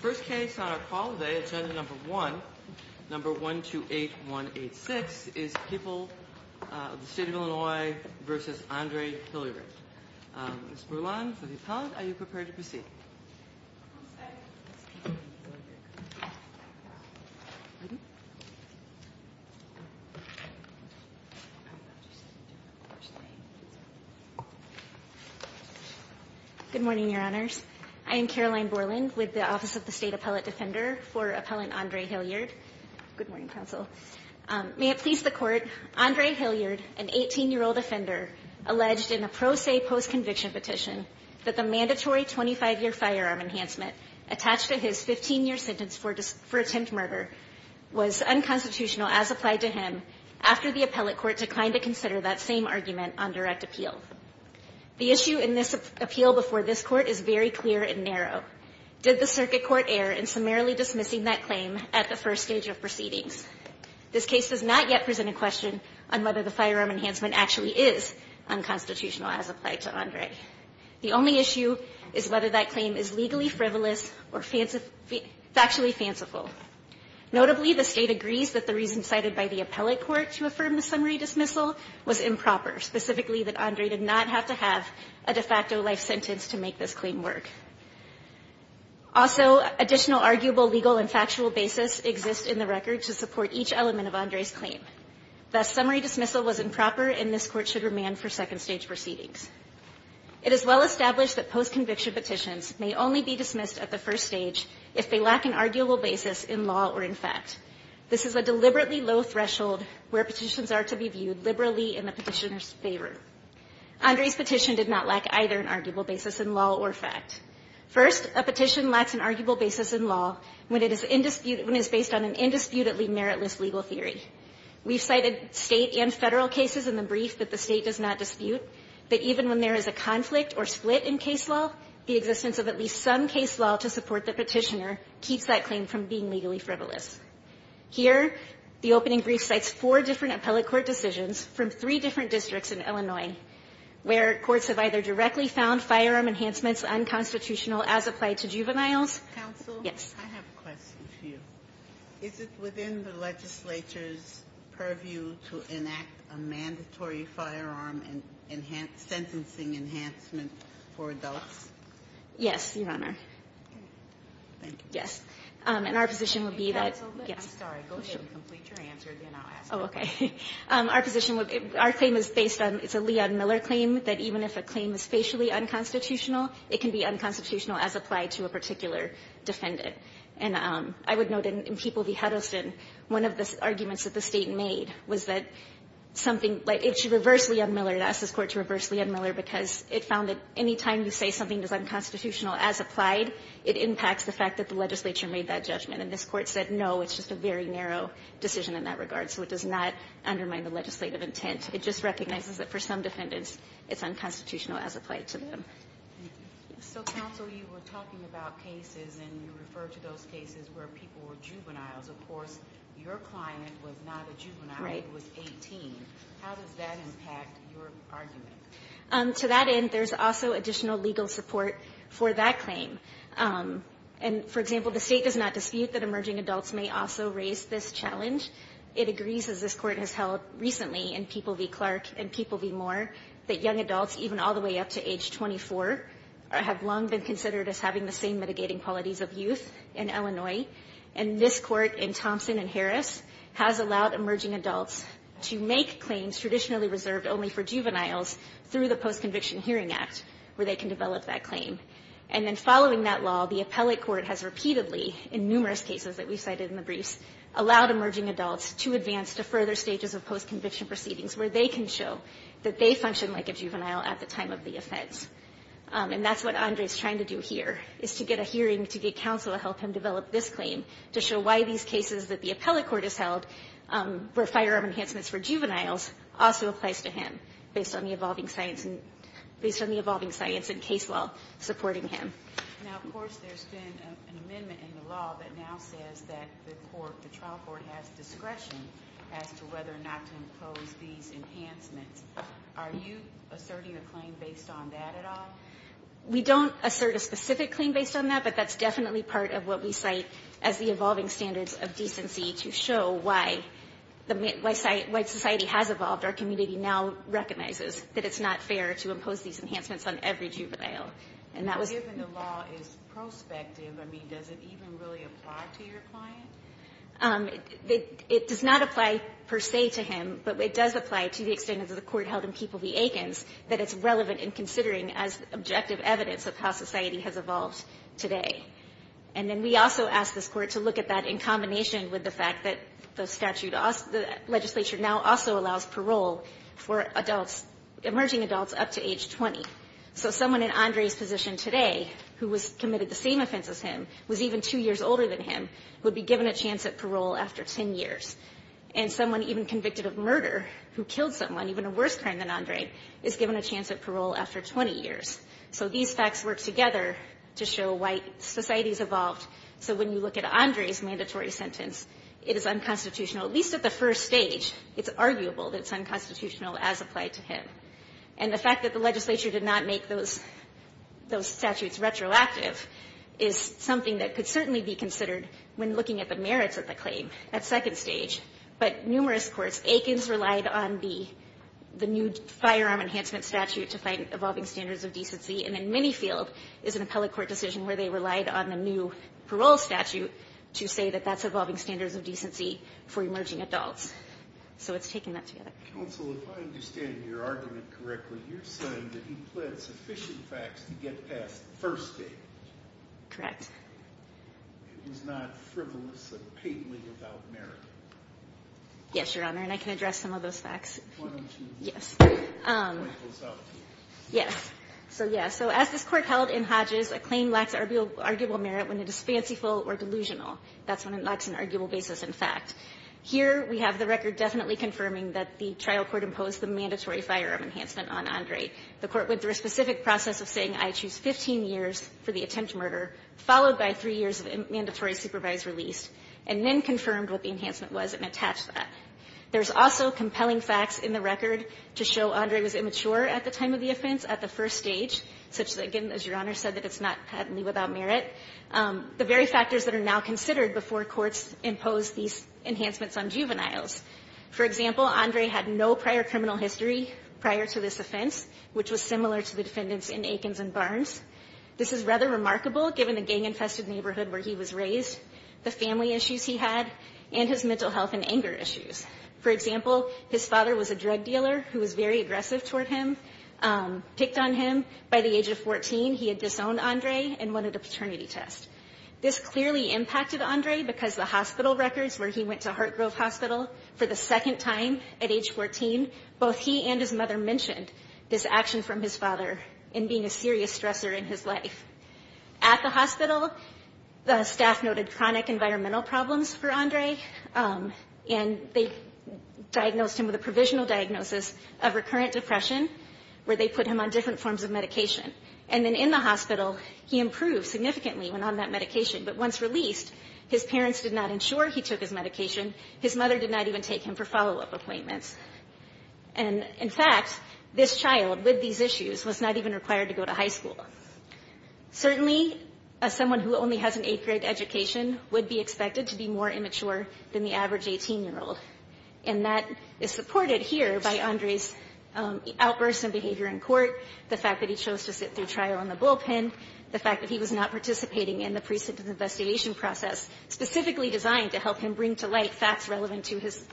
First case on our call today, agenda number 1, number 128186, is People of the State of Illinois v. Andre Hilliard. Ms. Bourland, for the appellant, are you prepared to proceed? Good morning, Your Honors. I am Caroline Bourland with the Office of the State Appellate Defender for Appellant Andre Hilliard. May it please the Court, Andre Hilliard, an 18-year-old offender, alleged in a pro se post-conviction petition that the mandatory 25-year firearm enhancement attached to his 15-year sentence for attempt murder was unconstitutional as applied to him after the appellate court declined to consider that same argument on direct appeal. The issue in this appeal before this Court is very clear and narrow. Did the circuit court err in summarily dismissing that claim at the first stage of proceedings? This case does not yet present a question on whether the firearm enhancement actually is unconstitutional as applied to Andre. The only issue is whether that claim is legally frivolous or factually fanciful. Notably, the State agrees that the reason cited by the appellate court to affirm the summary dismissal was improper, specifically that Andre did not have to have a de facto life sentence to make this claim work. Also, additional arguable legal and factual basis exists in the record to support each element of Andre's claim. Thus, summary dismissal was improper and this Court should remand for second stage proceedings. It is well established that post-conviction petitions may only be dismissed at the first stage if they lack an arguable basis in law or in fact. This is a deliberately low threshold where petitions are to be viewed liberally in the petitioner's favor. Andre's petition did not lack either an arguable basis in law or fact. First, a petition lacks an arguable basis in law when it is based on an indisputably meritless legal theory. We've cited State and Federal cases in the brief that the State does not dispute, that even when there is a conflict or split in case law, the existence of at least some case law to support the petitioner keeps that claim from being legally frivolous. Here, the opening brief cites four different appellate court decisions from three different districts in Illinois, where courts have either directly found firearm enhancements unconstitutional as applied to juveniles. Sotomayor, yes. Ginsburg, I have a question for you. Is it within the legislature's purview to enact a mandatory firearm and enhance ‑‑ sentencing enhancement for adults? Yes, Your Honor. Okay. Thank you. Yes. And our position would be that ‑‑ I'm sorry. Go ahead and complete your answer, then I'll ask the question. Oh, okay. Our position would be ‑‑ our claim is based on ‑‑ it's a Leon Miller claim that even if a claim is facially unconstitutional, it can be unconstitutional as applied to a particular defendant. And I would note in People v. Huddleston, one of the arguments that the State made was that something ‑‑ it should reverse Leon Miller. It asks this Court to reverse Leon Miller because it found that any time you say something is unconstitutional as applied, it impacts the fact that the legislature made that judgment. And this Court said, no, it's just a very narrow decision in that regard, so it does not undermine the legislative intent. It just recognizes that for some defendants, it's unconstitutional as applied to them. So, counsel, you were talking about cases and you referred to those cases where people were juveniles. Of course, your client was not a juvenile. He was 18. How does that impact your argument? To that end, there's also additional legal support for that claim. And, for example, the State does not dispute that emerging adults may also raise this challenge. It agrees, as this Court has held recently in People v. Clark and People v. Moore, that young adults, even all the way up to age 24, have long been considered as having the same mitigating qualities of youth in Illinois. And this Court, in Thompson and Harris, has allowed emerging adults to make claims traditionally reserved only for juveniles through the Post-Conviction Hearing Act, where they can develop that claim. And then following that law, the appellate court has repeatedly, in numerous cases that we cited in the briefs, allowed emerging adults to advance to further stages of post-conviction proceedings where they can show that they functioned like a juvenile at the time of the offense. And that's what Andre is trying to do here, is to get a hearing to get counsel to help him develop this claim, to show why these cases that the appellate court has held, where firearm enhancements were juveniles, also applies to him, based on the evolving science and case law supporting him. Now, of course, there's been an amendment in the law that now says that the trial court has discretion as to whether or not to impose these enhancements. Are you asserting a claim based on that at all? We don't assert a specific claim based on that, but that's definitely part of what we cite as the evolving standards of decency to show why society has evolved. Our community now recognizes that it's not fair to impose these enhancements on every It does not apply, per se, to him, but it does apply to the extent of the court held in People v. Aikens that it's relevant in considering as objective evidence of how society has evolved today. And then we also ask this Court to look at that in combination with the fact that the statute also the legislature now also allows parole for adults, emerging adults up to age 20. So someone in Andre's position today who was committed the same offense as him, was even two years older than him, would be given a chance at parole after 10 years. And someone even convicted of murder who killed someone, even a worse crime than Andre, is given a chance at parole after 20 years. So these facts work together to show why society has evolved. So when you look at Andre's mandatory sentence, it is unconstitutional, at least at the first stage. It's arguable that it's unconstitutional as applied to him. And the fact that the legislature did not make those statutes retroactive is something that could certainly be considered when looking at the merits of the claim at second stage. But numerous courts, Aikens relied on the new firearm enhancement statute to find evolving standards of decency. And then Minifield is an appellate court decision where they relied on the new parole statute to say that that's evolving standards of decency for emerging adults. So it's taking that together. Counsel, if I understand your argument correctly, you're saying that he pled sufficient facts to get past the first stage. Correct. It was not frivolous or patently without merit. Yes, Your Honor, and I can address some of those facts. Why don't you point those out to me? Yes. So, yeah, so as this court held in Hodges, a claim lacks arguable merit when it is fanciful or delusional. That's when it lacks an arguable basis in fact. Here we have the record definitely confirming that the trial court imposed the mandatory firearm enhancement on Andre. The court went through a specific process of saying I choose 15 years for the attempt murder, followed by three years of mandatory supervised release, and then confirmed what the enhancement was and attached that. There's also compelling facts in the record to show Andre was immature at the time of the offense at the first stage, such that, again, as Your Honor said, that it's not patently without merit. The very factors that are now considered before courts impose these enhancements on juveniles. For example, Andre had no prior criminal history prior to this offense, which was similar to the defendants in Aikens and Barnes. This is rather remarkable given the gang-infested neighborhood where he was raised, the family issues he had, and his mental health and anger issues. For example, his father was a drug dealer who was very aggressive toward him. Picked on him. This clearly impacted Andre because the hospital records where he went to Heart Grove Hospital for the second time at age 14, both he and his mother mentioned this action from his father in being a serious stressor in his life. At the hospital, the staff noted chronic environmental problems for Andre, and they diagnosed him with a provisional diagnosis of recurrent depression, where they put him on different forms of medication. And then in the hospital, he improved significantly. But once released, his parents did not ensure he took his medication. His mother did not even take him for follow-up appointments. And, in fact, this child, with these issues, was not even required to go to high school. Certainly, someone who only has an eighth-grade education would be expected to be more immature than the average 18-year-old. And that is supported here by Andre's outbursts in behavior in court, the fact that he chose to sit through trial on the bullpen, the fact that he was not participating in the trial. And the fact that he was participating in the precinct investigation process specifically designed to help him bring to light facts relevant to his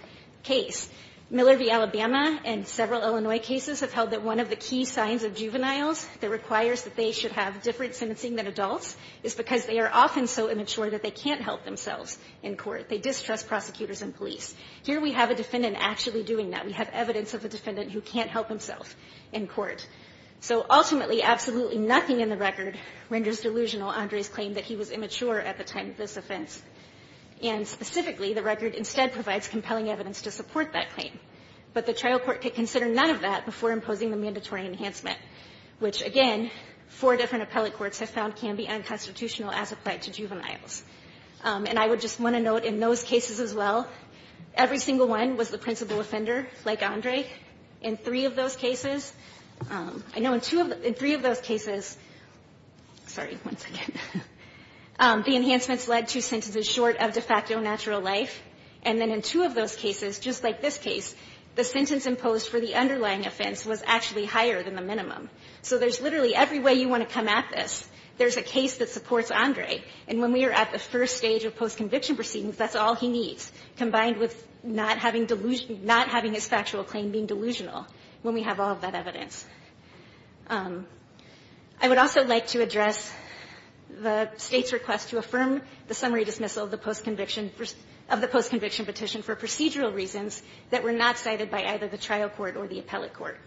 case. Miller v. Alabama and several Illinois cases have held that one of the key signs of juveniles that requires that they should have different sentencing than adults is because they are often so immature that they can't help themselves in court. They distrust prosecutors and police. Here we have a defendant actually doing that. We have evidence of a defendant who can't help himself in court. So ultimately absolutely nothing in the record renders delusional Andre's claim that he was immature at the time of this offense. And specifically, the record instead provides compelling evidence to support that claim. But the trial court could consider none of that before imposing the mandatory enhancement, which, again, four different appellate courts have found can be unconstitutional as applied to juveniles. And I would just want to note in those cases as well, every single one was the principal offender, like Andre. In three of those cases, I know in two of the three of those cases, sorry, one second, the enhancements led to sentences short of de facto natural life. And then in two of those cases, just like this case, the sentence imposed for the underlying offense was actually higher than the minimum. So there's literally every way you want to come at this. There's a case that supports Andre. And when we are at the first stage of postconviction proceedings, that's all he needs, combined with not having delusion, not having his factual claim being delusional when we have all of that evidence. I would also like to address the State's request to affirm the summary dismissal of the postconviction, of the postconviction petition for procedural reasons that were not cited by either the trial court or the appellate court.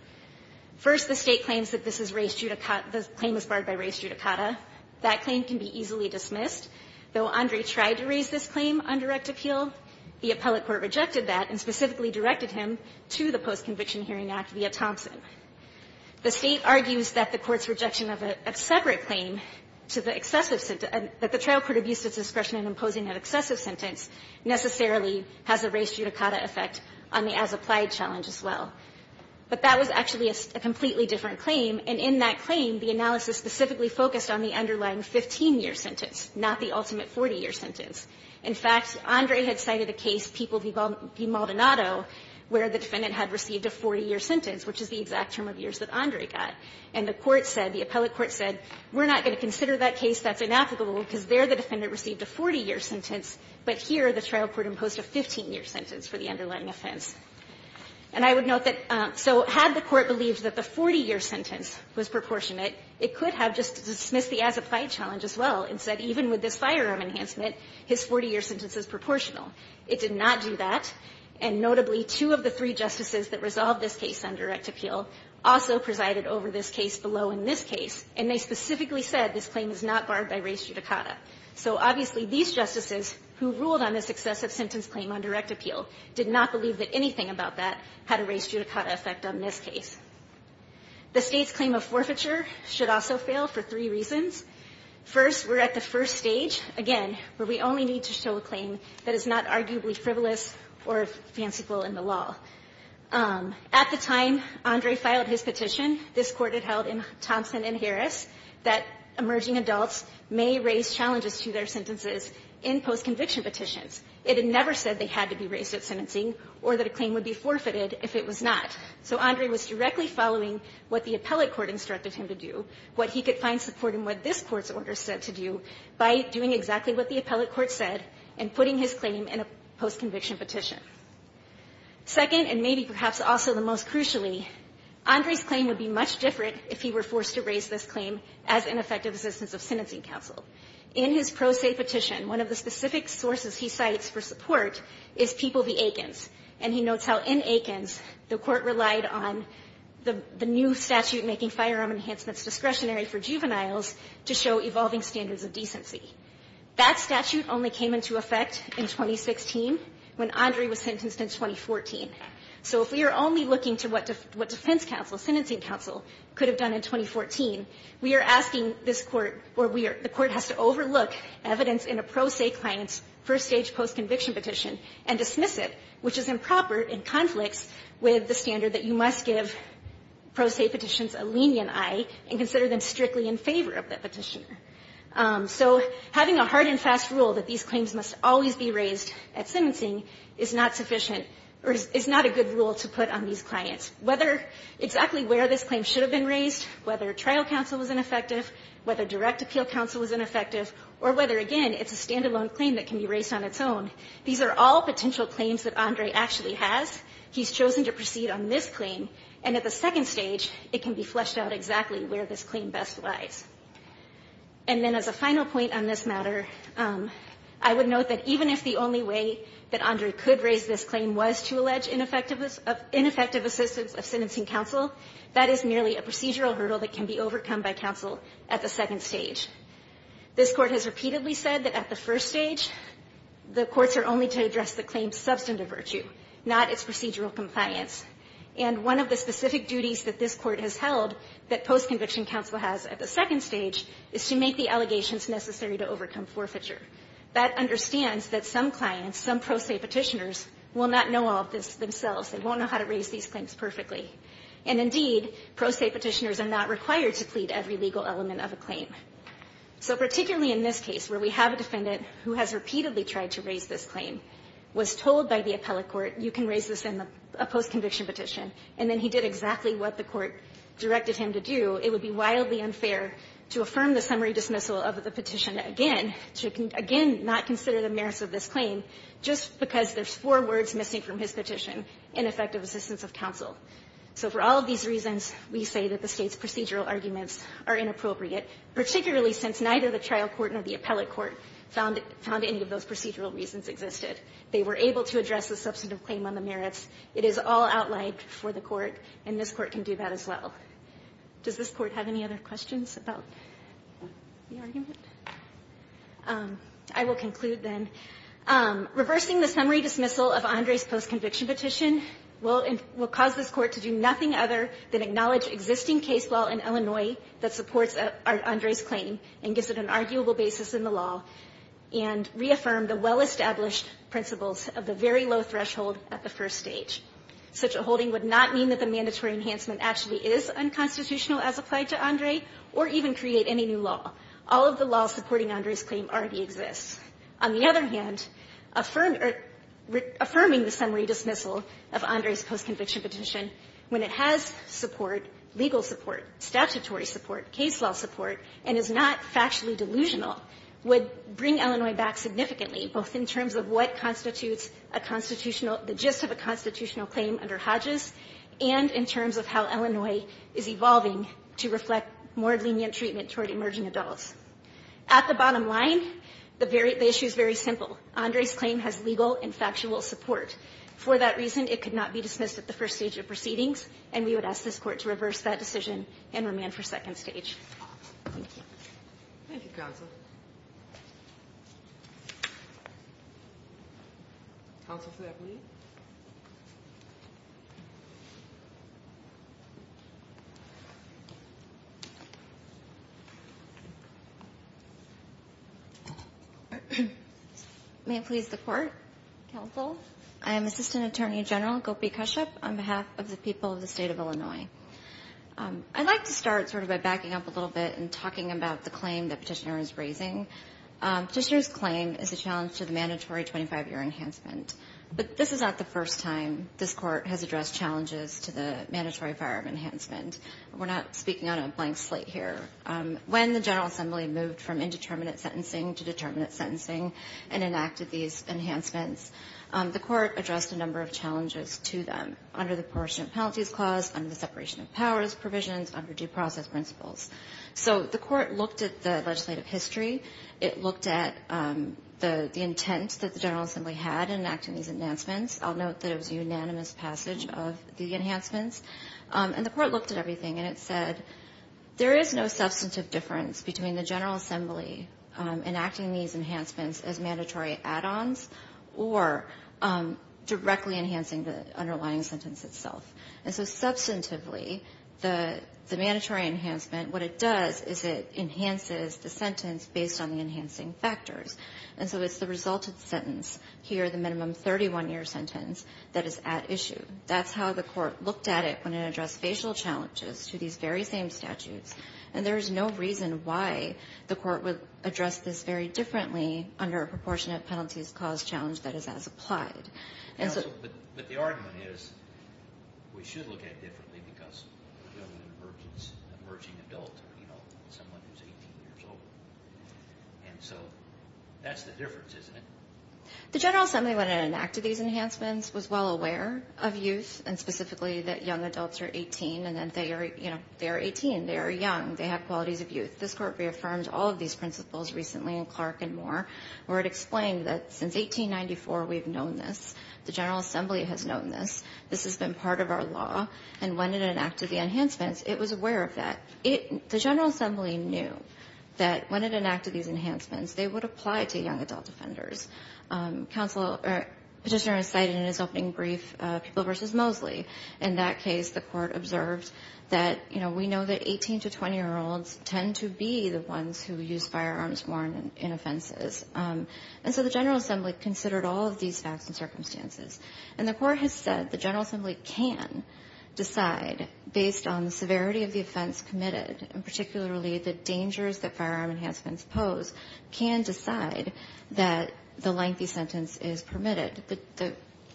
First, the State claims that this is raised judicata, the claim is barred by raised judicata. That claim can be easily dismissed. Though Andre tried to raise this claim on direct appeal, the appellate court rejected that and specifically directed him to the Postconviction Hearing Act via Thompson. The State argues that the court's rejection of a separate claim to the excessive sentence, that the trial court abused its discretion in imposing an excessive sentence necessarily has a raised judicata effect on the as-applied challenge as well. But that was actually a completely different claim. And in that claim, the analysis specifically focused on the underlying 15-year sentence, not the ultimate 40-year sentence. In fact, Andre had cited a case, People v. Maldonado, where the defendant had received a 40-year sentence, which is the exact term of years that Andre got. And the court said, the appellate court said, we're not going to consider that case that's inapplicable because there the defendant received a 40-year sentence, but here the trial court imposed a 15-year sentence for the underlying offense. And I would note that so had the court believed that the 40-year sentence was proportionate, it could have just dismissed the as-applied challenge as well and said, even with this firearm enhancement, his 40-year sentence is proportional. It did not do that. And notably, two of the three justices that resolved this case on direct appeal also presided over this case below in this case, and they specifically said this claim is not barred by raised judicata. So obviously, these justices who ruled on this excessive sentence claim on direct appeal did not believe that anything about that had a raised judicata effect on this case. The State's claim of forfeiture should also fail for three reasons. First, we're at the first stage, again, where we only need to show a claim that is not arguably frivolous or fanciful in the law. At the time Andre filed his petition, this court had held in Thompson and Harris that emerging adults may raise challenges to their sentences in post-conviction petitions. It had never said they had to be raised at sentencing or that a claim would be forfeited if it was not. So Andre was directly following what the appellate court instructed him to do, what he could find support in what this court's order said to do by doing exactly what the appellate court said and putting his claim in a post-conviction petition. Second, and maybe perhaps also the most crucially, Andre's claim would be much different if he were forced to raise this claim as an effective assistance of sentencing counsel. In his pro se petition, one of the specific sources he cites for support is People v. Aikens, and he notes how in Aikens, the court relied on the new statute making firearm enhancements discretionary for juveniles to show evolving standards of decency. That statute only came into effect in 2016 when Andre was sentenced in 2014. So if we are only looking to what defense counsel, sentencing counsel, could have done in 2014, we are asking this court or the court has to overlook evidence in a pro se petition. So having a hard and fast rule that these claims must always be raised at sentencing is not sufficient or is not a good rule to put on these clients. Whether exactly where this claim should have been raised, whether trial counsel was ineffective, whether direct appeal counsel was ineffective, or whether, again, it's a stand-alone claim that can be raised on its own, these are all potential claims. And then as a final point on this matter, I would note that even if the only way that Andre could raise this claim was to allege ineffective assistance of sentencing counsel, that is merely a procedural hurdle that can be overcome by counsel at the second stage. This court has repeatedly said that at the first stage, the courts are only to address the claim's substantive virtue, not its procedural compliance. And one of the specific duties that this court has held that post-conviction counsel has at the second stage is to make the allegations necessary to overcome forfeiture. That understands that some clients, some pro se petitioners, will not know all of this themselves. They won't know how to raise these claims perfectly. And indeed, pro se petitioners are not required to plead every legal element of a claim. So particularly in this case, where we have a defendant who has repeatedly tried to raise this claim, was told by the appellate court, you can raise this in a post-conviction petition. And then he did exactly what the court directed him to do. It would be wildly unfair to affirm the summary dismissal of the petition again, to again not consider the merits of this claim, just because there's four words missing from his petition, ineffective assistance of counsel. So for all of these reasons, we say that the State's procedural arguments are inappropriate, particularly in this case. Particularly since neither the trial court nor the appellate court found any of those procedural reasons existed. They were able to address the substantive claim on the merits. It is all outlined for the court. And this court can do that as well. Does this court have any other questions about the argument? I will conclude then. Reversing the summary dismissal of Andre's post-conviction petition will cause this court to do nothing other than acknowledge existing case law in Illinois that supports Andre's claim and gives it an arguable basis in the law and reaffirm the well-established principles of the very low threshold at the first stage. Such a holding would not mean that the mandatory enhancement actually is unconstitutional as applied to Andre or even create any new law. All of the law supporting Andre's claim already exists. On the other hand, affirming the summary dismissal of Andre's post-conviction petition when it has support, legal support, statutory support, case law support, and is not factually delusional would bring Illinois back significantly both in terms of what constitutes a constitutional, the gist of a constitutional claim under Hodges and in terms of how Illinois is evolving to reflect more lenient treatment toward emerging adults. At the bottom line, the issue is very simple. Andre's claim has legal and factual support. For that reason, it could not be dismissed at the first stage of proceedings, and we would ask this court to reverse that decision and remand for second stage. Thank you. Thank you, counsel. Counsel Flapp, please. May it please the court. Counsel, I am Assistant Attorney General Gopi Kashyap on behalf of the people of the state of Illinois. I'd like to start sort of by backing up a little bit and talking about the claim that petitioner is raising. Petitioner's claim is a challenge to the mandatory 25-year enhancement, but this is not the first time this court has addressed challenges to the mandatory firearm enhancement. We're not speaking on a blank slate here. When the General Assembly moved from indeterminate sentencing to determinate sentencing and enacted these enhancements, the court addressed a number of challenges to them, under the portion of penalties clause, under the separation of powers provisions, under due process principles. So the court looked at the legislative history. It looked at the intent that the General Assembly had in enacting these enhancements. I'll note that it was a unanimous passage of the enhancements. And the court looked at everything, and it said there is no substantive difference between the General Assembly enacting these enhancements as mandatory add-ons or directly enhancing the underlying sentence itself. And so substantively, the mandatory enhancement, what it does is it enhances the sentence based on the enhancing factors. And so it's the resulted sentence here, the minimum 31-year sentence, that is at issue. That's how the court looked at it when it addressed facial challenges to these very same statutes. And there is no reason why the court would address this very differently under a proportionate penalties clause challenge that is as applied. But the argument is we should look at it differently because we're dealing with an emerging adult, someone who's 18 years old. And so that's the difference, isn't it? The General Assembly, when it enacted these enhancements, was well aware of youth, and specifically that young adults are 18, and then they are 18. They are young. They have qualities of youth. This court reaffirmed all of these principles recently in Clark and Moore, where it explained that since 1894 we've known this. The General Assembly has known this. This has been part of our law. And when it enacted the enhancements, it was aware of that. The General Assembly knew that when it enacted these enhancements, they would apply it to young adult offenders. Petitioner cited in his opening brief People v. Mosley. In that case, the court observed that, you know, we know that 18- to 20-year-olds tend to be the ones who use firearms more in offenses. And so the General Assembly considered all of these facts and circumstances. And the court has said the General Assembly can decide, based on the severity of the offense committed, and particularly the dangers that firearm enhancements pose, can decide that the lengthy sentence is permitted. The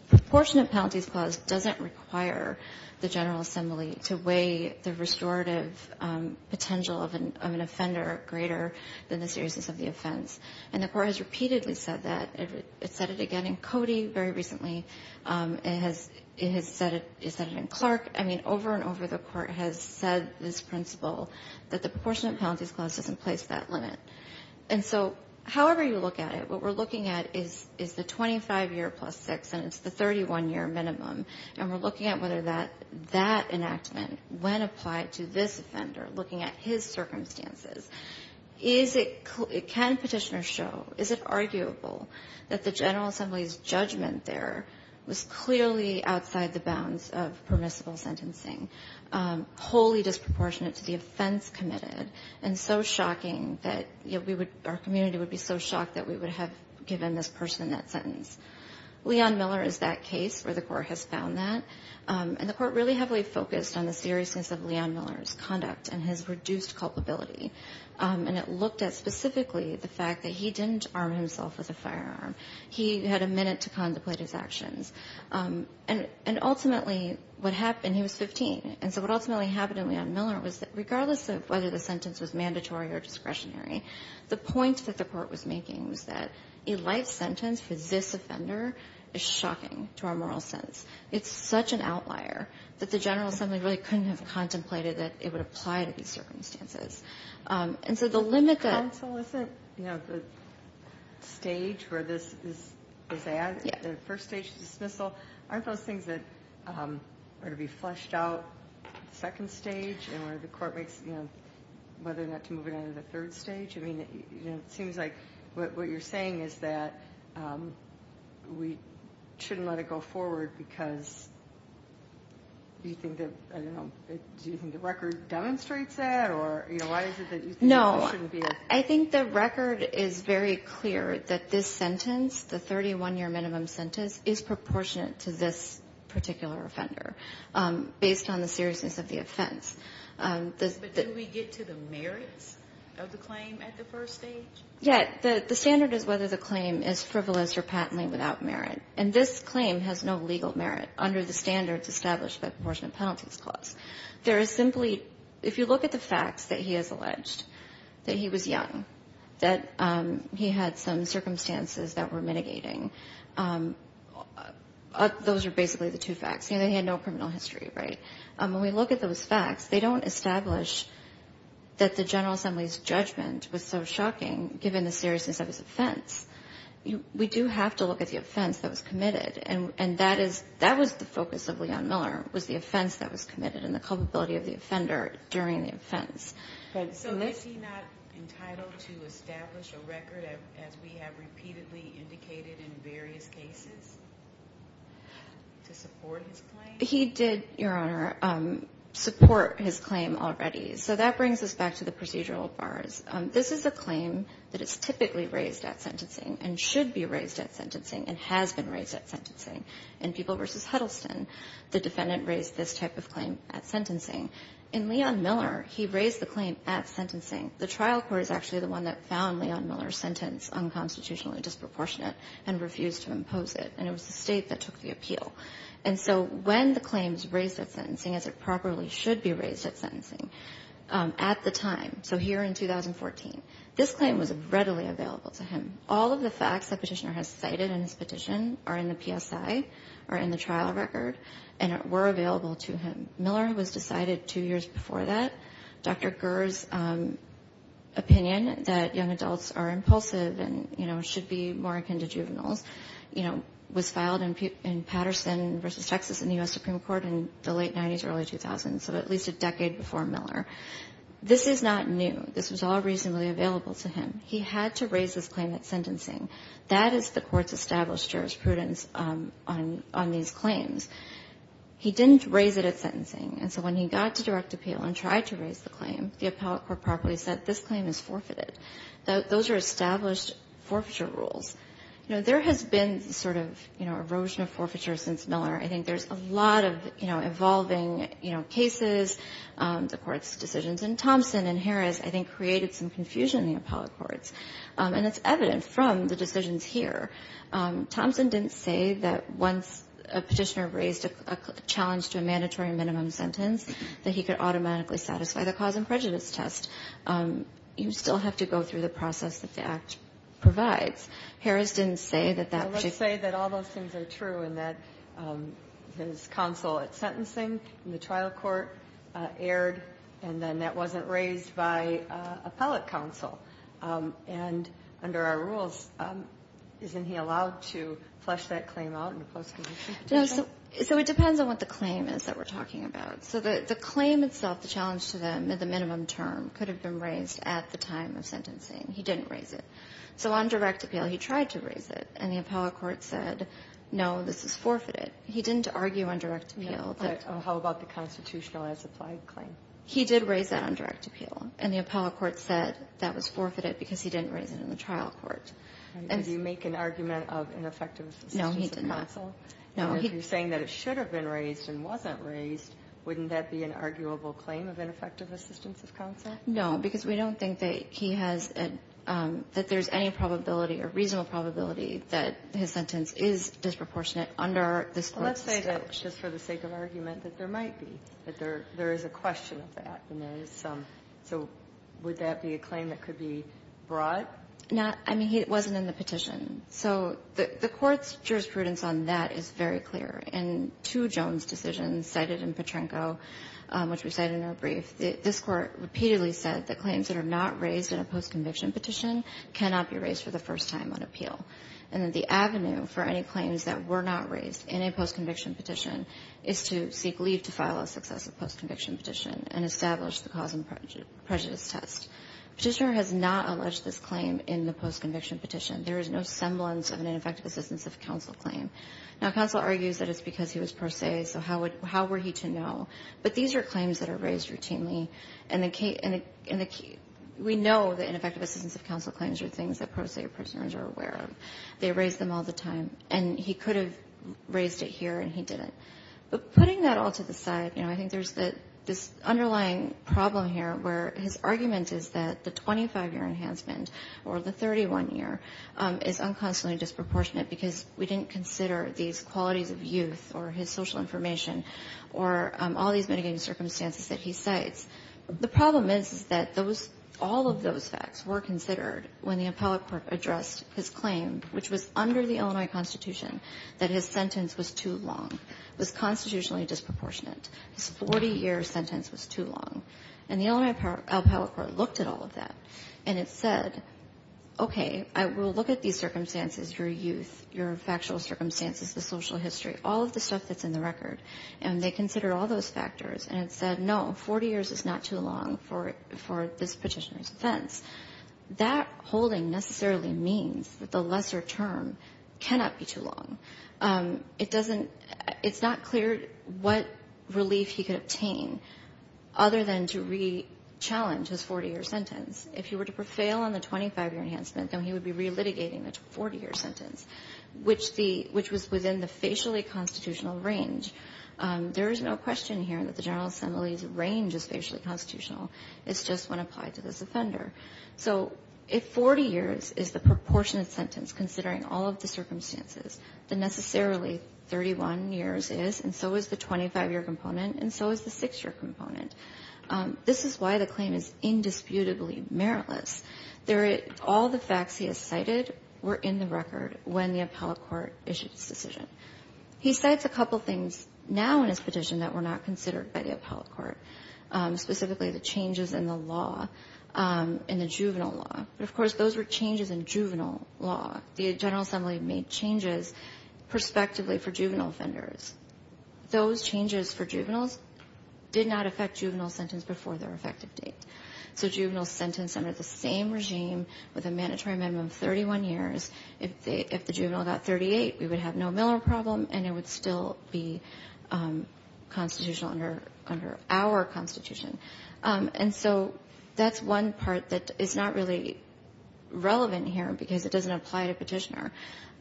proportionate penalties clause doesn't require the General Assembly to weigh the restorative potential of an offender greater than the seriousness of the offense. And the court has repeatedly said that. It said it again in Cody very recently. It has said it in Clark. I mean, over and over the court has said this principle, that the proportionate penalties clause doesn't place that limit. And so however you look at it, what we're looking at is the 25-year plus six, and it's the 31-year minimum. And we're looking at whether that enactment, when applied to this offender, looking at his circumstances, can Petitioner show, is it arguable that the General Assembly's judgment there was clearly outside the bounds of permissible sentencing, wholly disproportionate to the offense committed, and so shocking that our community would be so shocked that we would have given this person that sentence. Leon Miller is that case where the court has found that. And the court really heavily focused on the seriousness of Leon Miller's conduct and his reduced culpability. And it looked at specifically the fact that he didn't arm himself with a firearm. He had a minute to contemplate his actions. And ultimately what happened, he was 15, and so what ultimately happened to Leon Miller was that, whether the sentence was mandatory or discretionary, the point that the court was making was that a life sentence for this offender is shocking to our moral sense. It's such an outlier that the General Assembly really couldn't have contemplated that it would apply to these circumstances. And so the limit that the stage where this is at, the first stage of dismissal, aren't those things that are to be fleshed out at the second stage and where the court makes whether or not to move it on to the third stage? It seems like what you're saying is that we shouldn't let it go forward because do you think the record demonstrates that? Or why is it that you think it shouldn't be? No. I think the record is very clear that this sentence, the 31-year minimum sentence, is proportionate to this particular offender based on the seriousness of the offense. But do we get to the merits of the claim at the first stage? Yeah. The standard is whether the claim is frivolous or patently without merit. And this claim has no legal merit under the standards established by the Proportionate Penalties Clause. There is simply, if you look at the facts that he has alleged, that he was young, that he had some circumstances that were mitigating. Those are basically the two facts. He had no criminal history, right? When we look at those facts, they don't establish that the General Assembly's judgment was so shocking, given the seriousness of his offense. We do have to look at the offense that was committed, and that was the focus of Leon Miller was the offense that was committed and the culpability of the offender during the offense. So is he not entitled to establish a record, as we have repeatedly indicated in various cases, to support his claim? He did, Your Honor, support his claim already. So that brings us back to the procedural bars. This is a claim that is typically raised at sentencing and should be raised at sentencing and has been raised at sentencing. In People v. Huddleston, the defendant raised this type of claim at sentencing. In Leon Miller, he raised the claim at sentencing. The trial court is actually the one that found Leon Miller's sentence unconstitutionally disproportionate and refused to impose it, and it was the State that took the appeal. And so when the claim is raised at sentencing, as it properly should be raised at sentencing, at the time, so here in 2014, this claim was readily available to him. All of the facts that Petitioner has cited in his petition are in the PSI or in the trial record, and it were available to him. Miller was decided two years before that. Dr. Gurr's opinion that young adults are impulsive and should be more akin to juveniles was filed in Patterson v. Texas in the U.S. Supreme Court in the late 90s, early 2000s, so at least a decade before Miller. This is not new. This was all reasonably available to him. He had to raise this claim at sentencing. That is the court's established jurisprudence on these claims. He didn't raise it at sentencing, and so when he got to direct appeal and tried to raise the claim, the appellate court properly said this claim is forfeited. Those are established forfeiture rules. You know, there has been sort of, you know, erosion of forfeiture since Miller. I think there's a lot of, you know, evolving, you know, cases, the court's decisions, and Thompson and Harris, I think, created some confusion in the appellate courts, and it's evident from the decisions here. Thompson didn't say that once a petitioner raised a challenge to a mandatory minimum sentence that he could automatically satisfy the cause and prejudice test. You still have to go through the process that the Act provides. Harris didn't say that that particular. Well, let's say that all those things are true and that his counsel at sentencing in the trial court erred and then that wasn't raised by appellate counsel, and under our rules, isn't he allowed to flesh that claim out in a post-conviction case? So it depends on what the claim is that we're talking about. So the claim itself, the challenge to the minimum term, could have been raised at the time of sentencing. He didn't raise it. So on direct appeal, he tried to raise it, and the appellate court said, no, this is forfeited. He didn't argue on direct appeal. How about the constitutional as applied claim? He did raise that on direct appeal, and the appellate court said that was forfeited because he didn't raise it in the trial court. Did he make an argument of ineffective assistance of counsel? No, he did not. And if you're saying that it should have been raised and wasn't raised, wouldn't that be an arguable claim of ineffective assistance of counsel? No, because we don't think that there's any probability or reasonable probability that his sentence is disproportionate under this court's statute. Well, let's say that just for the sake of argument that there might be, that there is a question of that, and there is some. So would that be a claim that could be brought? No. I mean, it wasn't in the petition. So the Court's jurisprudence on that is very clear. In two Jones decisions cited in Petrenko, which we cite in our brief, this Court repeatedly said that claims that are not raised in a postconviction petition cannot be raised for the first time on appeal, and that the avenue for any claims that were not raised in a postconviction petition is to seek leave to file a successive postconviction petition and establish the cause and prejudice test. Petitioner has not alleged this claim in the postconviction petition. There is no semblance of an ineffective assistance of counsel claim. Now, counsel argues that it's because he was pro se, so how were he to know? But these are claims that are raised routinely, and we know that ineffective assistance of counsel claims are things that pro se prisoners are aware of. They raise them all the time. And he could have raised it here, and he didn't. But putting that all to the side, you know, I think there's this underlying problem here where his argument is that the 25-year enhancement or the 31-year is unconstantly disproportionate because we didn't consider these qualities of youth or his social information or all these mitigating circumstances that he cites. The problem is, is that those all of those facts were considered when the appellate court addressed his claim, which was under the Illinois Constitution, that his sentence was too long, was constitutionally disproportionate. His 40-year sentence was too long. And the Illinois appellate court looked at all of that, and it said, okay, I will look at these circumstances, your youth, your factual circumstances, the social history, all of the stuff that's in the record. And they considered all those factors, and it said, no, 40 years is not too long for this Petitioner's defense. That holding necessarily means that the lesser term cannot be too long. It doesn't – it's not clear what relief he could obtain other than to re-challenge his 40-year sentence. If he were to prevail on the 25-year enhancement, then he would be relitigating the 40-year sentence, which the – which was within the facially constitutional range. There is no question here that the General Assembly's range is facially constitutional. It's just when applied to this offender. So if 40 years is the proportionate sentence, considering all of the circumstances, then necessarily 31 years is, and so is the 25-year component, and so is the 6-year component. This is why the claim is indisputably meritless. There – all the facts he has cited were in the record when the appellate court issued his decision. He cites a couple things now in his petition that were not considered by the appellate court, specifically the changes in the law, in the juvenile law. But, of course, those were changes in juvenile law. The General Assembly made changes prospectively for juvenile offenders. Those changes for juveniles did not affect juvenile sentence before their effective date. So juvenile sentence under the same regime with a mandatory minimum of 31 years, if they – if the juvenile got 38, we would have no Miller problem, and it would still be constitutional under our Constitution. And so that's one part that is not really relevant here because it doesn't apply to Petitioner.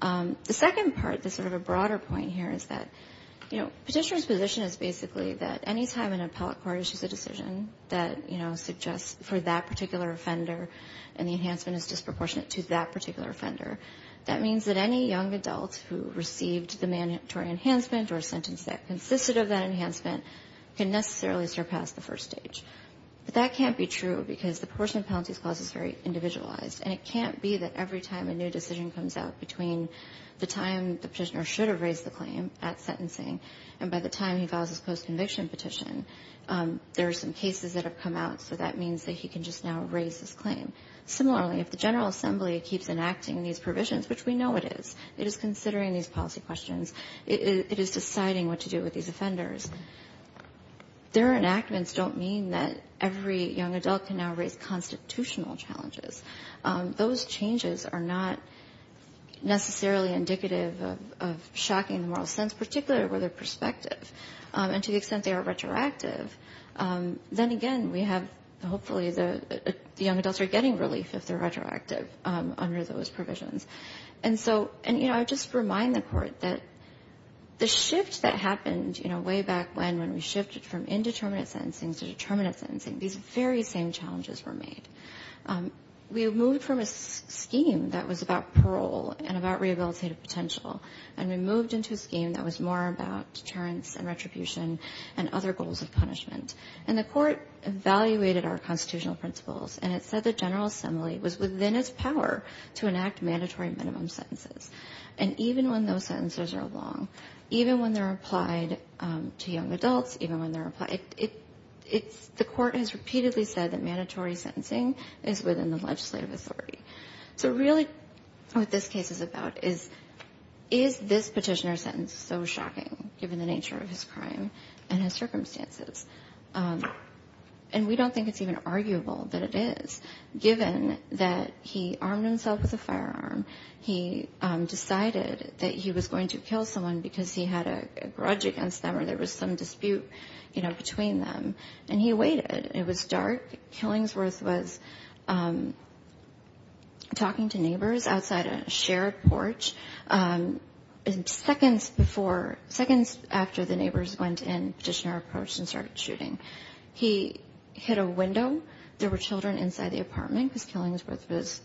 The second part, the sort of a broader point here, is that, you know, Petitioner's position is basically that any time an appellate court issues a decision that, you know, suggests for that particular offender and the enhancement is disproportionate to that particular offender, that means that any young adult who received the mandatory enhancement or a sentence that consisted of that enhancement can necessarily surpass the first stage. But that can't be true because the portion of penalty clause is very individualized, and it can't be that every time a new decision comes out between the time the Petitioner should have raised the claim at sentencing and by the time he files his post-conviction petition, there are some cases that have come out, so that means that he can just now raise his claim. Similarly, if the General Assembly keeps enacting these provisions, which we know it is, it is considering these policy questions, it is deciding what to do with these offenders, their enactments don't mean that every young adult can now raise constitutional challenges. Those changes are not necessarily indicative of shocking the moral sense, particularly with their perspective. And to the extent they are retroactive, then again, we have hopefully the young adults are getting relief if they're retroactive under those provisions. And so, you know, I would just remind the Court that the shift that happened, you know, way back when, when we shifted from indeterminate sentencing to determinate sentencing, these very same challenges were made. We moved from a scheme that was about parole and about rehabilitative potential, and we moved into a scheme that was more about deterrence and retribution and other goals of punishment. And the Court evaluated our constitutional principles, and it said the General Assembly has power to enact mandatory minimum sentences. And even when those sentences are long, even when they're applied to young adults, even when they're applied, the Court has repeatedly said that mandatory sentencing is within the legislative authority. So really what this case is about is, is this petitioner's sentence so shocking given the nature of his crime and his circumstances? And we don't think it's even a crime. He armed himself with a firearm. He decided that he was going to kill someone because he had a grudge against them or there was some dispute, you know, between them. And he waited. It was dark. Killingsworth was talking to neighbors outside a shared porch. And seconds before, seconds after the neighbors went in, petitioner approached and started shooting. He hit a window. There were children inside the apartment because Killingsworth was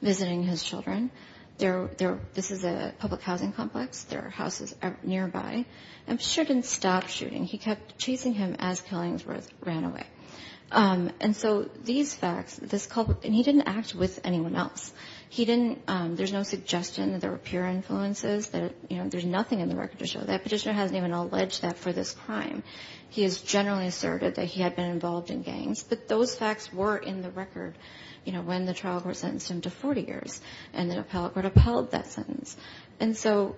visiting his children. This is a public housing complex. There are houses nearby. And Petitioner didn't stop shooting. He kept chasing him as Killingsworth ran away. And so these facts, this culprit, and he didn't act with anyone else. He didn't, there's no suggestion that there were pure influences, that, you know, there's nothing in the record to show that. Petitioner hasn't even alleged that for this crime. He has generally asserted that he had been involved in gangs. But those facts were in the record, you know, when the trial court sentenced him to 40 years and the appellate court upheld that sentence. And so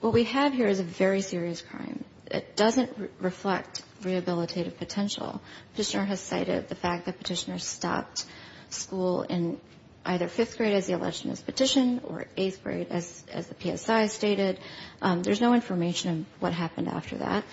what we have here is a very serious crime. It doesn't reflect rehabilitative potential. Petitioner has cited the fact that Petitioner stopped school in either fifth grade as he alleged in his petition or eighth grade as the PSI stated. There's no information of what happened after that.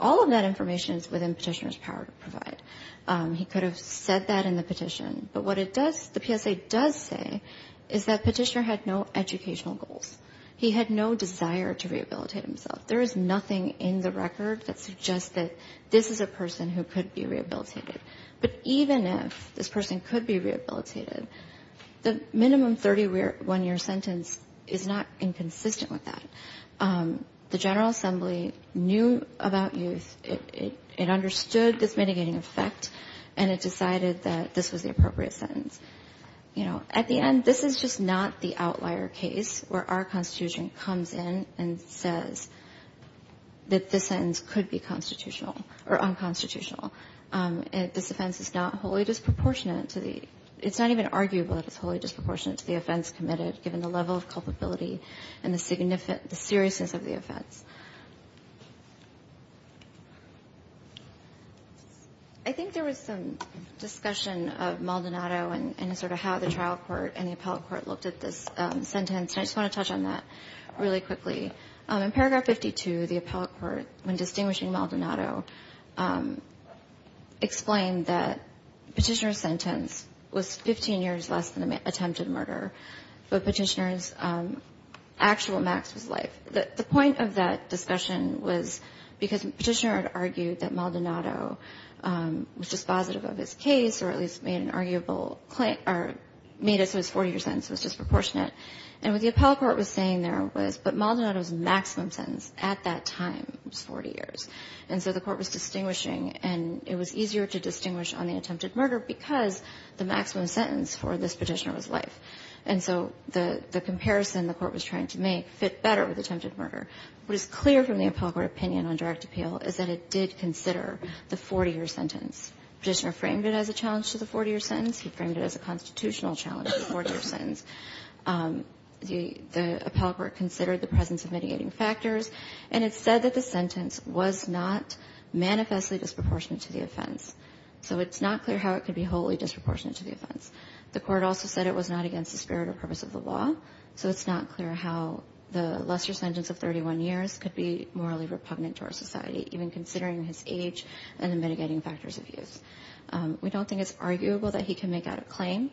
All of that information is within Petitioner's power to provide. He could have said that in the petition. But what it does, the PSA does say is that Petitioner had no educational goals. He had no desire to rehabilitate himself. There is nothing in the record that suggests that this is a person who could be rehabilitated. But even if this person could be rehabilitated, the minimum 31-year sentence is not inconsistent with that. The General Assembly knew about youth. It understood this mitigating effect, and it decided that this was the appropriate sentence. You know, at the end, this is just not the outlier case where our Constitution comes in and says that this sentence could be constitutional or unconstitutional. This offense is not wholly disproportionate to the – it's not even arguable that it's wholly disproportionate to the offense committed, given the level of culpability and the seriousness of the offense. I think there was some discussion of Maldonado and sort of how the trial court and the appellate court looked at this sentence, and I just want to touch on that really quickly. In Paragraph 52, the appellate court, when distinguishing Maldonado, explained that Petitioner's sentence was 15 years less than the attempted murder, but Petitioner's actual max was life. The point of that discussion was because Petitioner had argued that Maldonado was dispositive of his case or at least made an arguable – or made it so his 40-year sentence was disproportionate. And what the appellate court was saying there was, but Maldonado's maximum sentence at that time was 40 years. And so the court was distinguishing, and it was easier to distinguish on the attempted murder because the maximum sentence for this Petitioner was life. And so the comparison the court was trying to make fit better with attempted murder. What is clear from the appellate court opinion on direct appeal is that it did consider the 40-year sentence. Petitioner framed it as a challenge to the 40-year sentence. He framed it as a constitutional challenge to the 40-year sentence. The appellate court considered the presence of mitigating factors. And it said that the sentence was not manifestly disproportionate to the offense. So it's not clear how it could be wholly disproportionate to the offense. The court also said it was not against the spirit or purpose of the law. So it's not clear how the lesser sentence of 31 years could be morally repugnant to our society, even considering his age and the mitigating factors of use. We don't think it's arguable that he can make out a claim,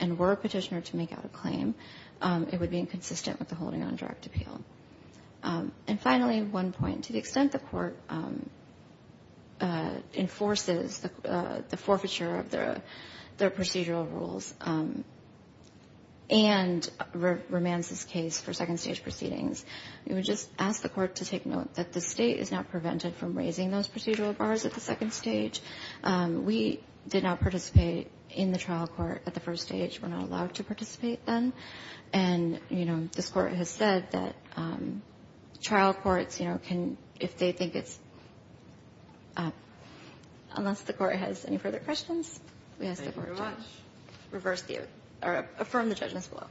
and were Petitioner to make out a claim, it would be inconsistent with the holding on direct appeal. And finally, one point. To the extent the court enforces the forfeiture of their procedural rules and remands this case for second-stage proceedings, we would just ask the court to take note that the State is not prevented from raising those procedural bars at the second stage. We did not participate in the trial court at the first stage. We're not allowed to participate then. And, you know, this Court has said that trial courts, you know, can, if they think it's up, unless the Court has any further questions, we ask the Court to reverse the, or affirm the judgment below.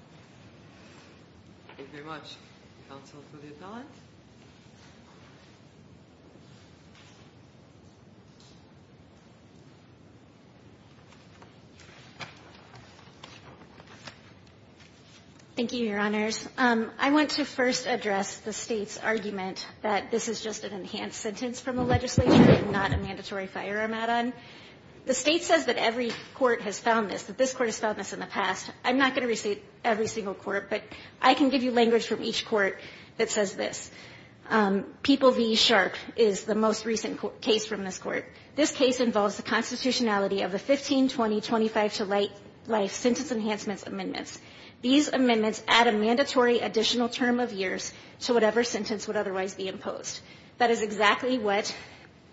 Thank you very much. Counsel for the appellant. Thank you, Your Honors. I want to first address the State's argument that this is just an enhanced sentence from the legislation, not a mandatory firearm add-on. The State says that every court has found this, that this Court has found this in the past. I'm not going to say every single court, but I can give you language from each court that says this. People v. Sharp is the most recent case from this Court. This case involves the constitutionality of the 15, 20, 25 to late life sentence enhancements amendments. These amendments add a mandatory additional term of years to whatever sentence would otherwise be imposed. That is exactly what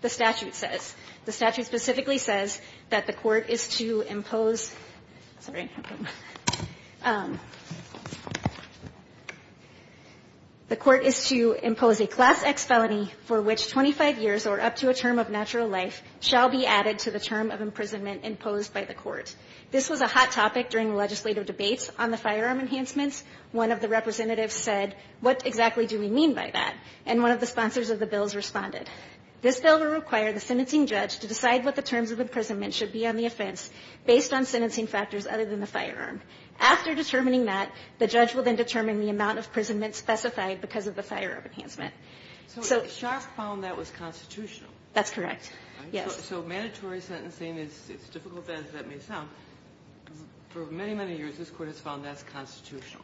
the statute says. The statute specifically says that the Court is to impose, sorry, the Court is to impose a Class X felony for which 25 years or up to a term of natural life shall be added to the term of imprisonment imposed by the Court. This was a hot topic during legislative debates on the firearm enhancements. One of the representatives said, what exactly do we mean by that? And one of the sponsors of the bills responded. This bill will require the sentencing judge to decide what the terms of imprisonment should be on the offense based on sentencing factors other than the firearm. After determining that, the judge will then determine the amount of imprisonment specified because of the firearm enhancement. So the Sharp found that was constitutional. That's correct. Yes. So mandatory sentencing is as difficult as that may sound. For many, many years, this Court has found that's constitutional.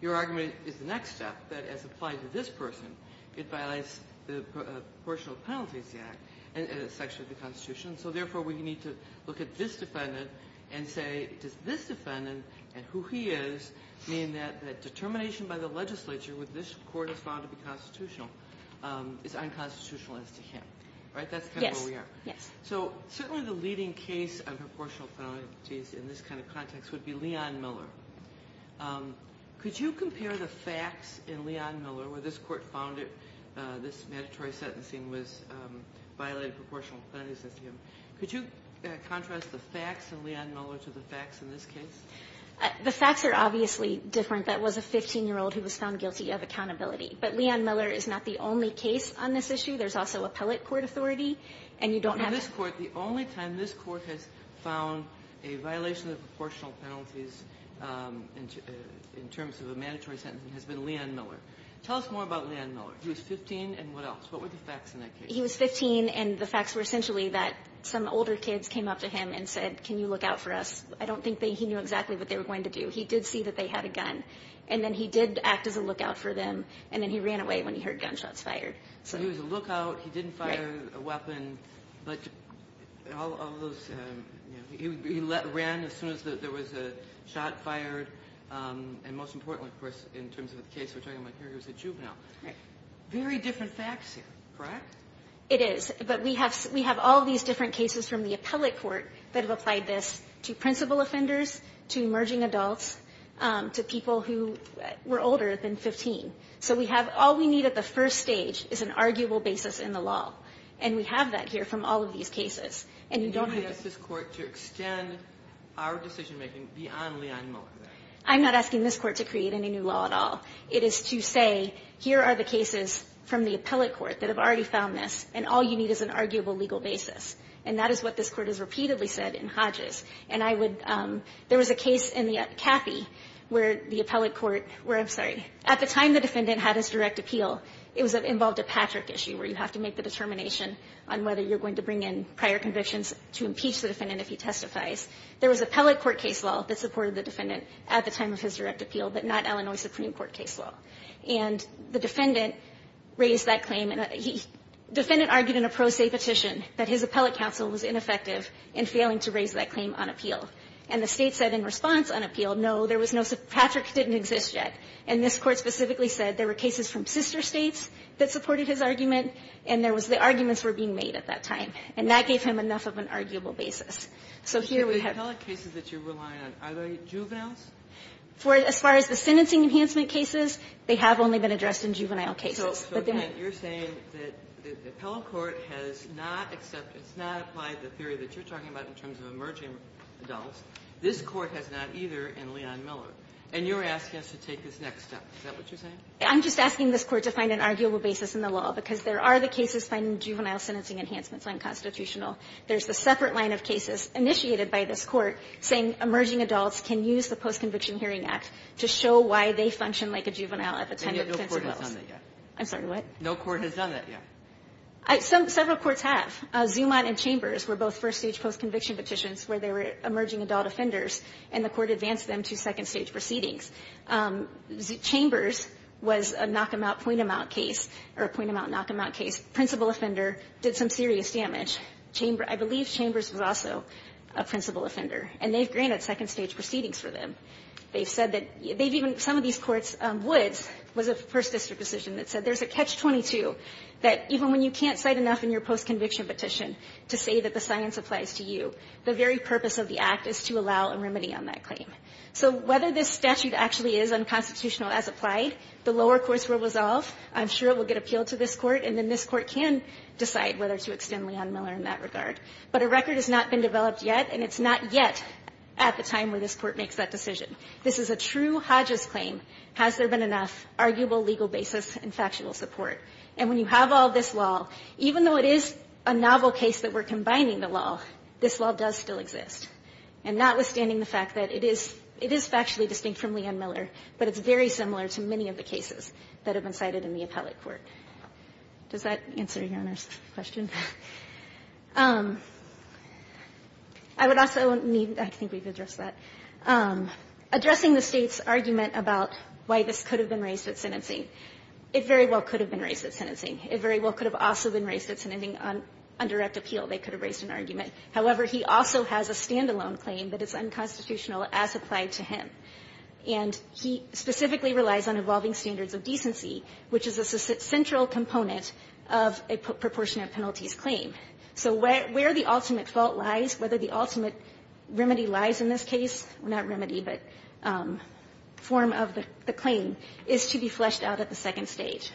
Your argument is the next step, that as applied to this person, it violates the Proportional Penalties Act, and it's actually the Constitution. So, therefore, we need to look at this defendant and say, does this defendant and who he is mean that determination by the legislature, which this Court has found to be constitutional, is unconstitutional as to him? Right? That's kind of where we are. So certainly the leading case on proportional penalties in this kind of context would be Leon Miller. Could you compare the facts in Leon Miller, where this Court found this mandatory sentencing violated proportional penalties against him? Could you contrast the facts in Leon Miller to the facts in this case? The facts are obviously different. That was a 15-year-old who was found guilty of accountability. But Leon Miller is not the only case on this issue. There's also appellate court authority, and you don't have to – the only time this Court has found a violation of proportional penalties in terms of a mandatory sentencing has been Leon Miller. Tell us more about Leon Miller. He was 15, and what else? What were the facts in that case? He was 15, and the facts were essentially that some older kids came up to him and said, can you look out for us? I don't think he knew exactly what they were going to do. He did see that they had a gun, and then he did act as a lookout for them, and then he ran away when he heard gunshots fired. So he was a lookout. He didn't fire a weapon. But all of those – he ran as soon as there was a shot fired. And most importantly, of course, in terms of the case we're talking about here, he was a juvenile. Very different facts here, correct? It is, but we have all these different cases from the appellate court that have applied this to principal offenders, to emerging adults, to people who were older than 15. So we have – all we need at the first stage is an arguable basis in the law, and we have that here from all of these cases. And you don't have to – And you're going to ask this court to extend our decision-making beyond Leon Miller, then? I'm not asking this court to create any new law at all. It is to say, here are the cases from the appellate court that have already found this, and all you need is an arguable legal basis. And that is what this court has repeatedly said in Hodges. And I would – there was a case in the – Cathy, where the appellate court – where – I'm sorry. At the time the defendant had his direct appeal, it involved a Patrick issue where you have to make the determination on whether you're going to bring in prior convictions to impeach the defendant if he testifies. There was appellate court case law that supported the defendant at the time of his direct appeal, but not Illinois Supreme Court case law. And the defendant raised that claim. And the defendant argued in a pro se petition that his appellate counsel was ineffective in failing to raise that claim on appeal. And the state said in response on appeal, no, there was no – Patrick didn't exist yet. And this court specifically said there were cases from sister states that supported his argument, and there was – the arguments were being made at that time. And that gave him enough of an arguable basis. So here we have – Kagan. But the appellate cases that you're relying on, are they juveniles? As far as the sentencing enhancement cases, they have only been addressed in juvenile cases. But they're not – So, so that you're saying that the appellate court has not accepted – it's not applied the theory that you're talking about in terms of emerging adults. This court has not either in Leon Miller. And you're asking us to take this next step. Is that what you're saying? I'm just asking this Court to find an arguable basis in the law. Because there are the cases finding juvenile sentencing enhancements unconstitutional. There's the separate line of cases initiated by this Court saying emerging adults can use the Post-Conviction Hearing Act to show why they function like a juvenile at the time of the sentencing. And no court has done that yet. I'm sorry, what? No court has done that yet. Several courts have. Zumann and Chambers were both first-stage post-conviction petitions where they were emerging adult offenders. And the Court advanced them to second-stage proceedings. Chambers was a knock-them-out, point-them-out case, or a point-them-out, knock-them-out case. Principal offender did some serious damage. Chambers – I believe Chambers was also a principal offender. And they've granted second-stage proceedings for them. They've said that – they've even – some of these courts – Woods was a first-district decision that said there's a catch-22 that even when you can't cite enough in your post-conviction petition to say that the science applies to you, the very purpose of the act is to allow a remedy on that claim. So whether this statute actually is unconstitutional as applied, the lower courts will resolve. I'm sure it will get appealed to this Court. And then this Court can decide whether to extend Leon Miller in that regard. But a record has not been developed yet, and it's not yet at the time where this Court makes that decision. This is a true Hodges claim. Has there been enough arguable legal basis and factual support? And when you have all this law, even though it is a novel case that we're combining the law, this law does still exist. And notwithstanding the fact that it is – it is factually distinct from Leon Miller, but it's very similar to many of the cases that have been cited in the appellate court. Does that answer Your Honor's question? I would also need – I think we've addressed that. Addressing the State's argument about why this could have been raised at sentencing, it very well could have been raised at sentencing. It very well could have also been raised at sentencing on indirect appeal. They could have raised an argument. However, he also has a stand-alone claim that is unconstitutional as applied to him. And he specifically relies on evolving standards of decency, which is a central component of a proportionate penalties claim. So where the ultimate fault lies, whether the ultimate remedy lies in this case – not remedy, but form of the claim – is to be fleshed out at the second stage.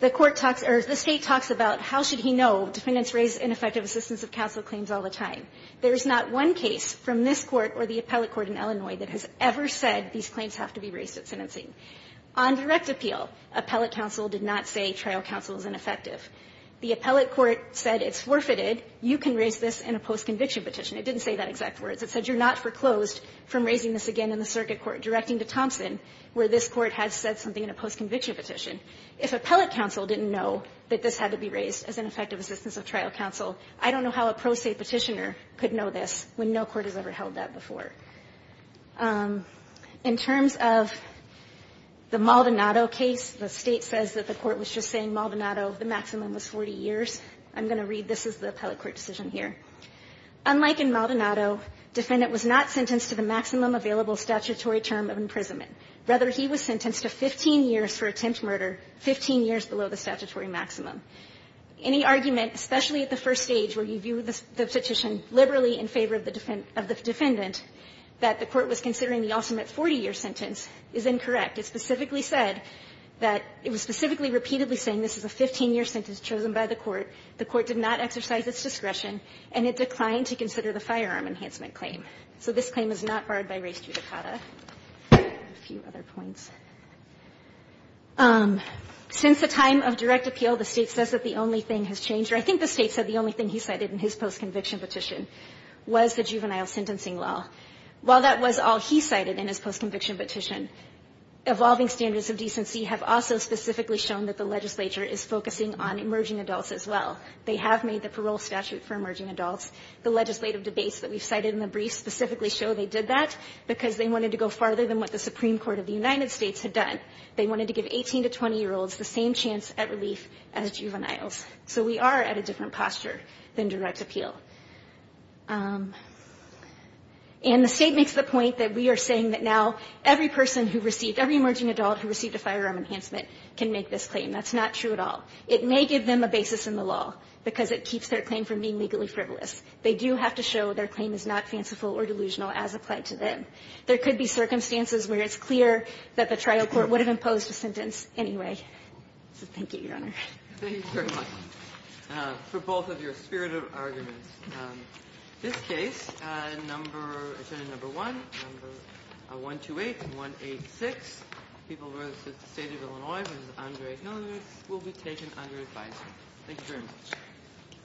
The court talks – or the State talks about how should he know defendants raise ineffective assistance of counsel claims all the time. There is not one case from this court or the appellate court in Illinois that has ever said these claims have to be raised at sentencing. On direct appeal, appellate counsel did not say trial counsel is ineffective. The appellate court said it's forfeited, you can raise this in a post-conviction petition. It didn't say that exact words. It said you're not foreclosed from raising this again in the circuit court. Directing to Thompson, where this court has said something in a post-conviction petition. If appellate counsel didn't know that this had to be raised as ineffective assistance of trial counsel, I don't know how a pro se petitioner could know this when no court has ever held that before. In terms of the Maldonado case, the State says that the court was just saying Maldonado, the maximum was 40 years. I'm going to read this as the appellate court decision here. Unlike in Maldonado, defendant was not sentenced to the maximum available statutory term of imprisonment. Rather, he was sentenced to 15 years for attempt murder, 15 years below the statutory maximum. Any argument, especially at the first stage where you view the petition liberally in favor of the defendant, that the court was considering the ultimate 40-year sentence is incorrect. It specifically said that it was specifically repeatedly saying this is a 15-year sentence chosen by the court, the court did not exercise its discretion, and it declined to consider the firearm enhancement claim. So this claim is not barred by res judicata. A few other points. Since the time of direct appeal, the State says that the only thing has changed, or I think the State said the only thing he cited in his postconviction petition was the juvenile sentencing law. While that was all he cited in his postconviction petition, evolving standards of decency have also specifically shown that the legislature is focusing on emerging adults as well. They have made the parole statute for emerging adults. The legislative debates that we've cited in the brief specifically show they did that because they wanted to go farther than what the Supreme Court of the United States had done. They wanted to give 18- to 20-year-olds the same chance at relief as juveniles. So we are at a different posture than direct appeal. And the State makes the point that we are saying that now every person who received every emerging adult who received a firearm enhancement can make this claim. That's not true at all. It may give them a basis in the law because it keeps their claim from being legally frivolous. They do have to show their claim is not fanciful or delusional as applied to them. There could be circumstances where it's clear that the trial court would have imposed a sentence anyway. So thank you, Your Honor. Ginsburg. Thank you very much for both of your spirited arguments. This case, number, Attorney Number 1, number 128 and 186, people who are with the State of Illinois, Mr. Andre Hillenrath, will be taken under advisory. Thank you very much.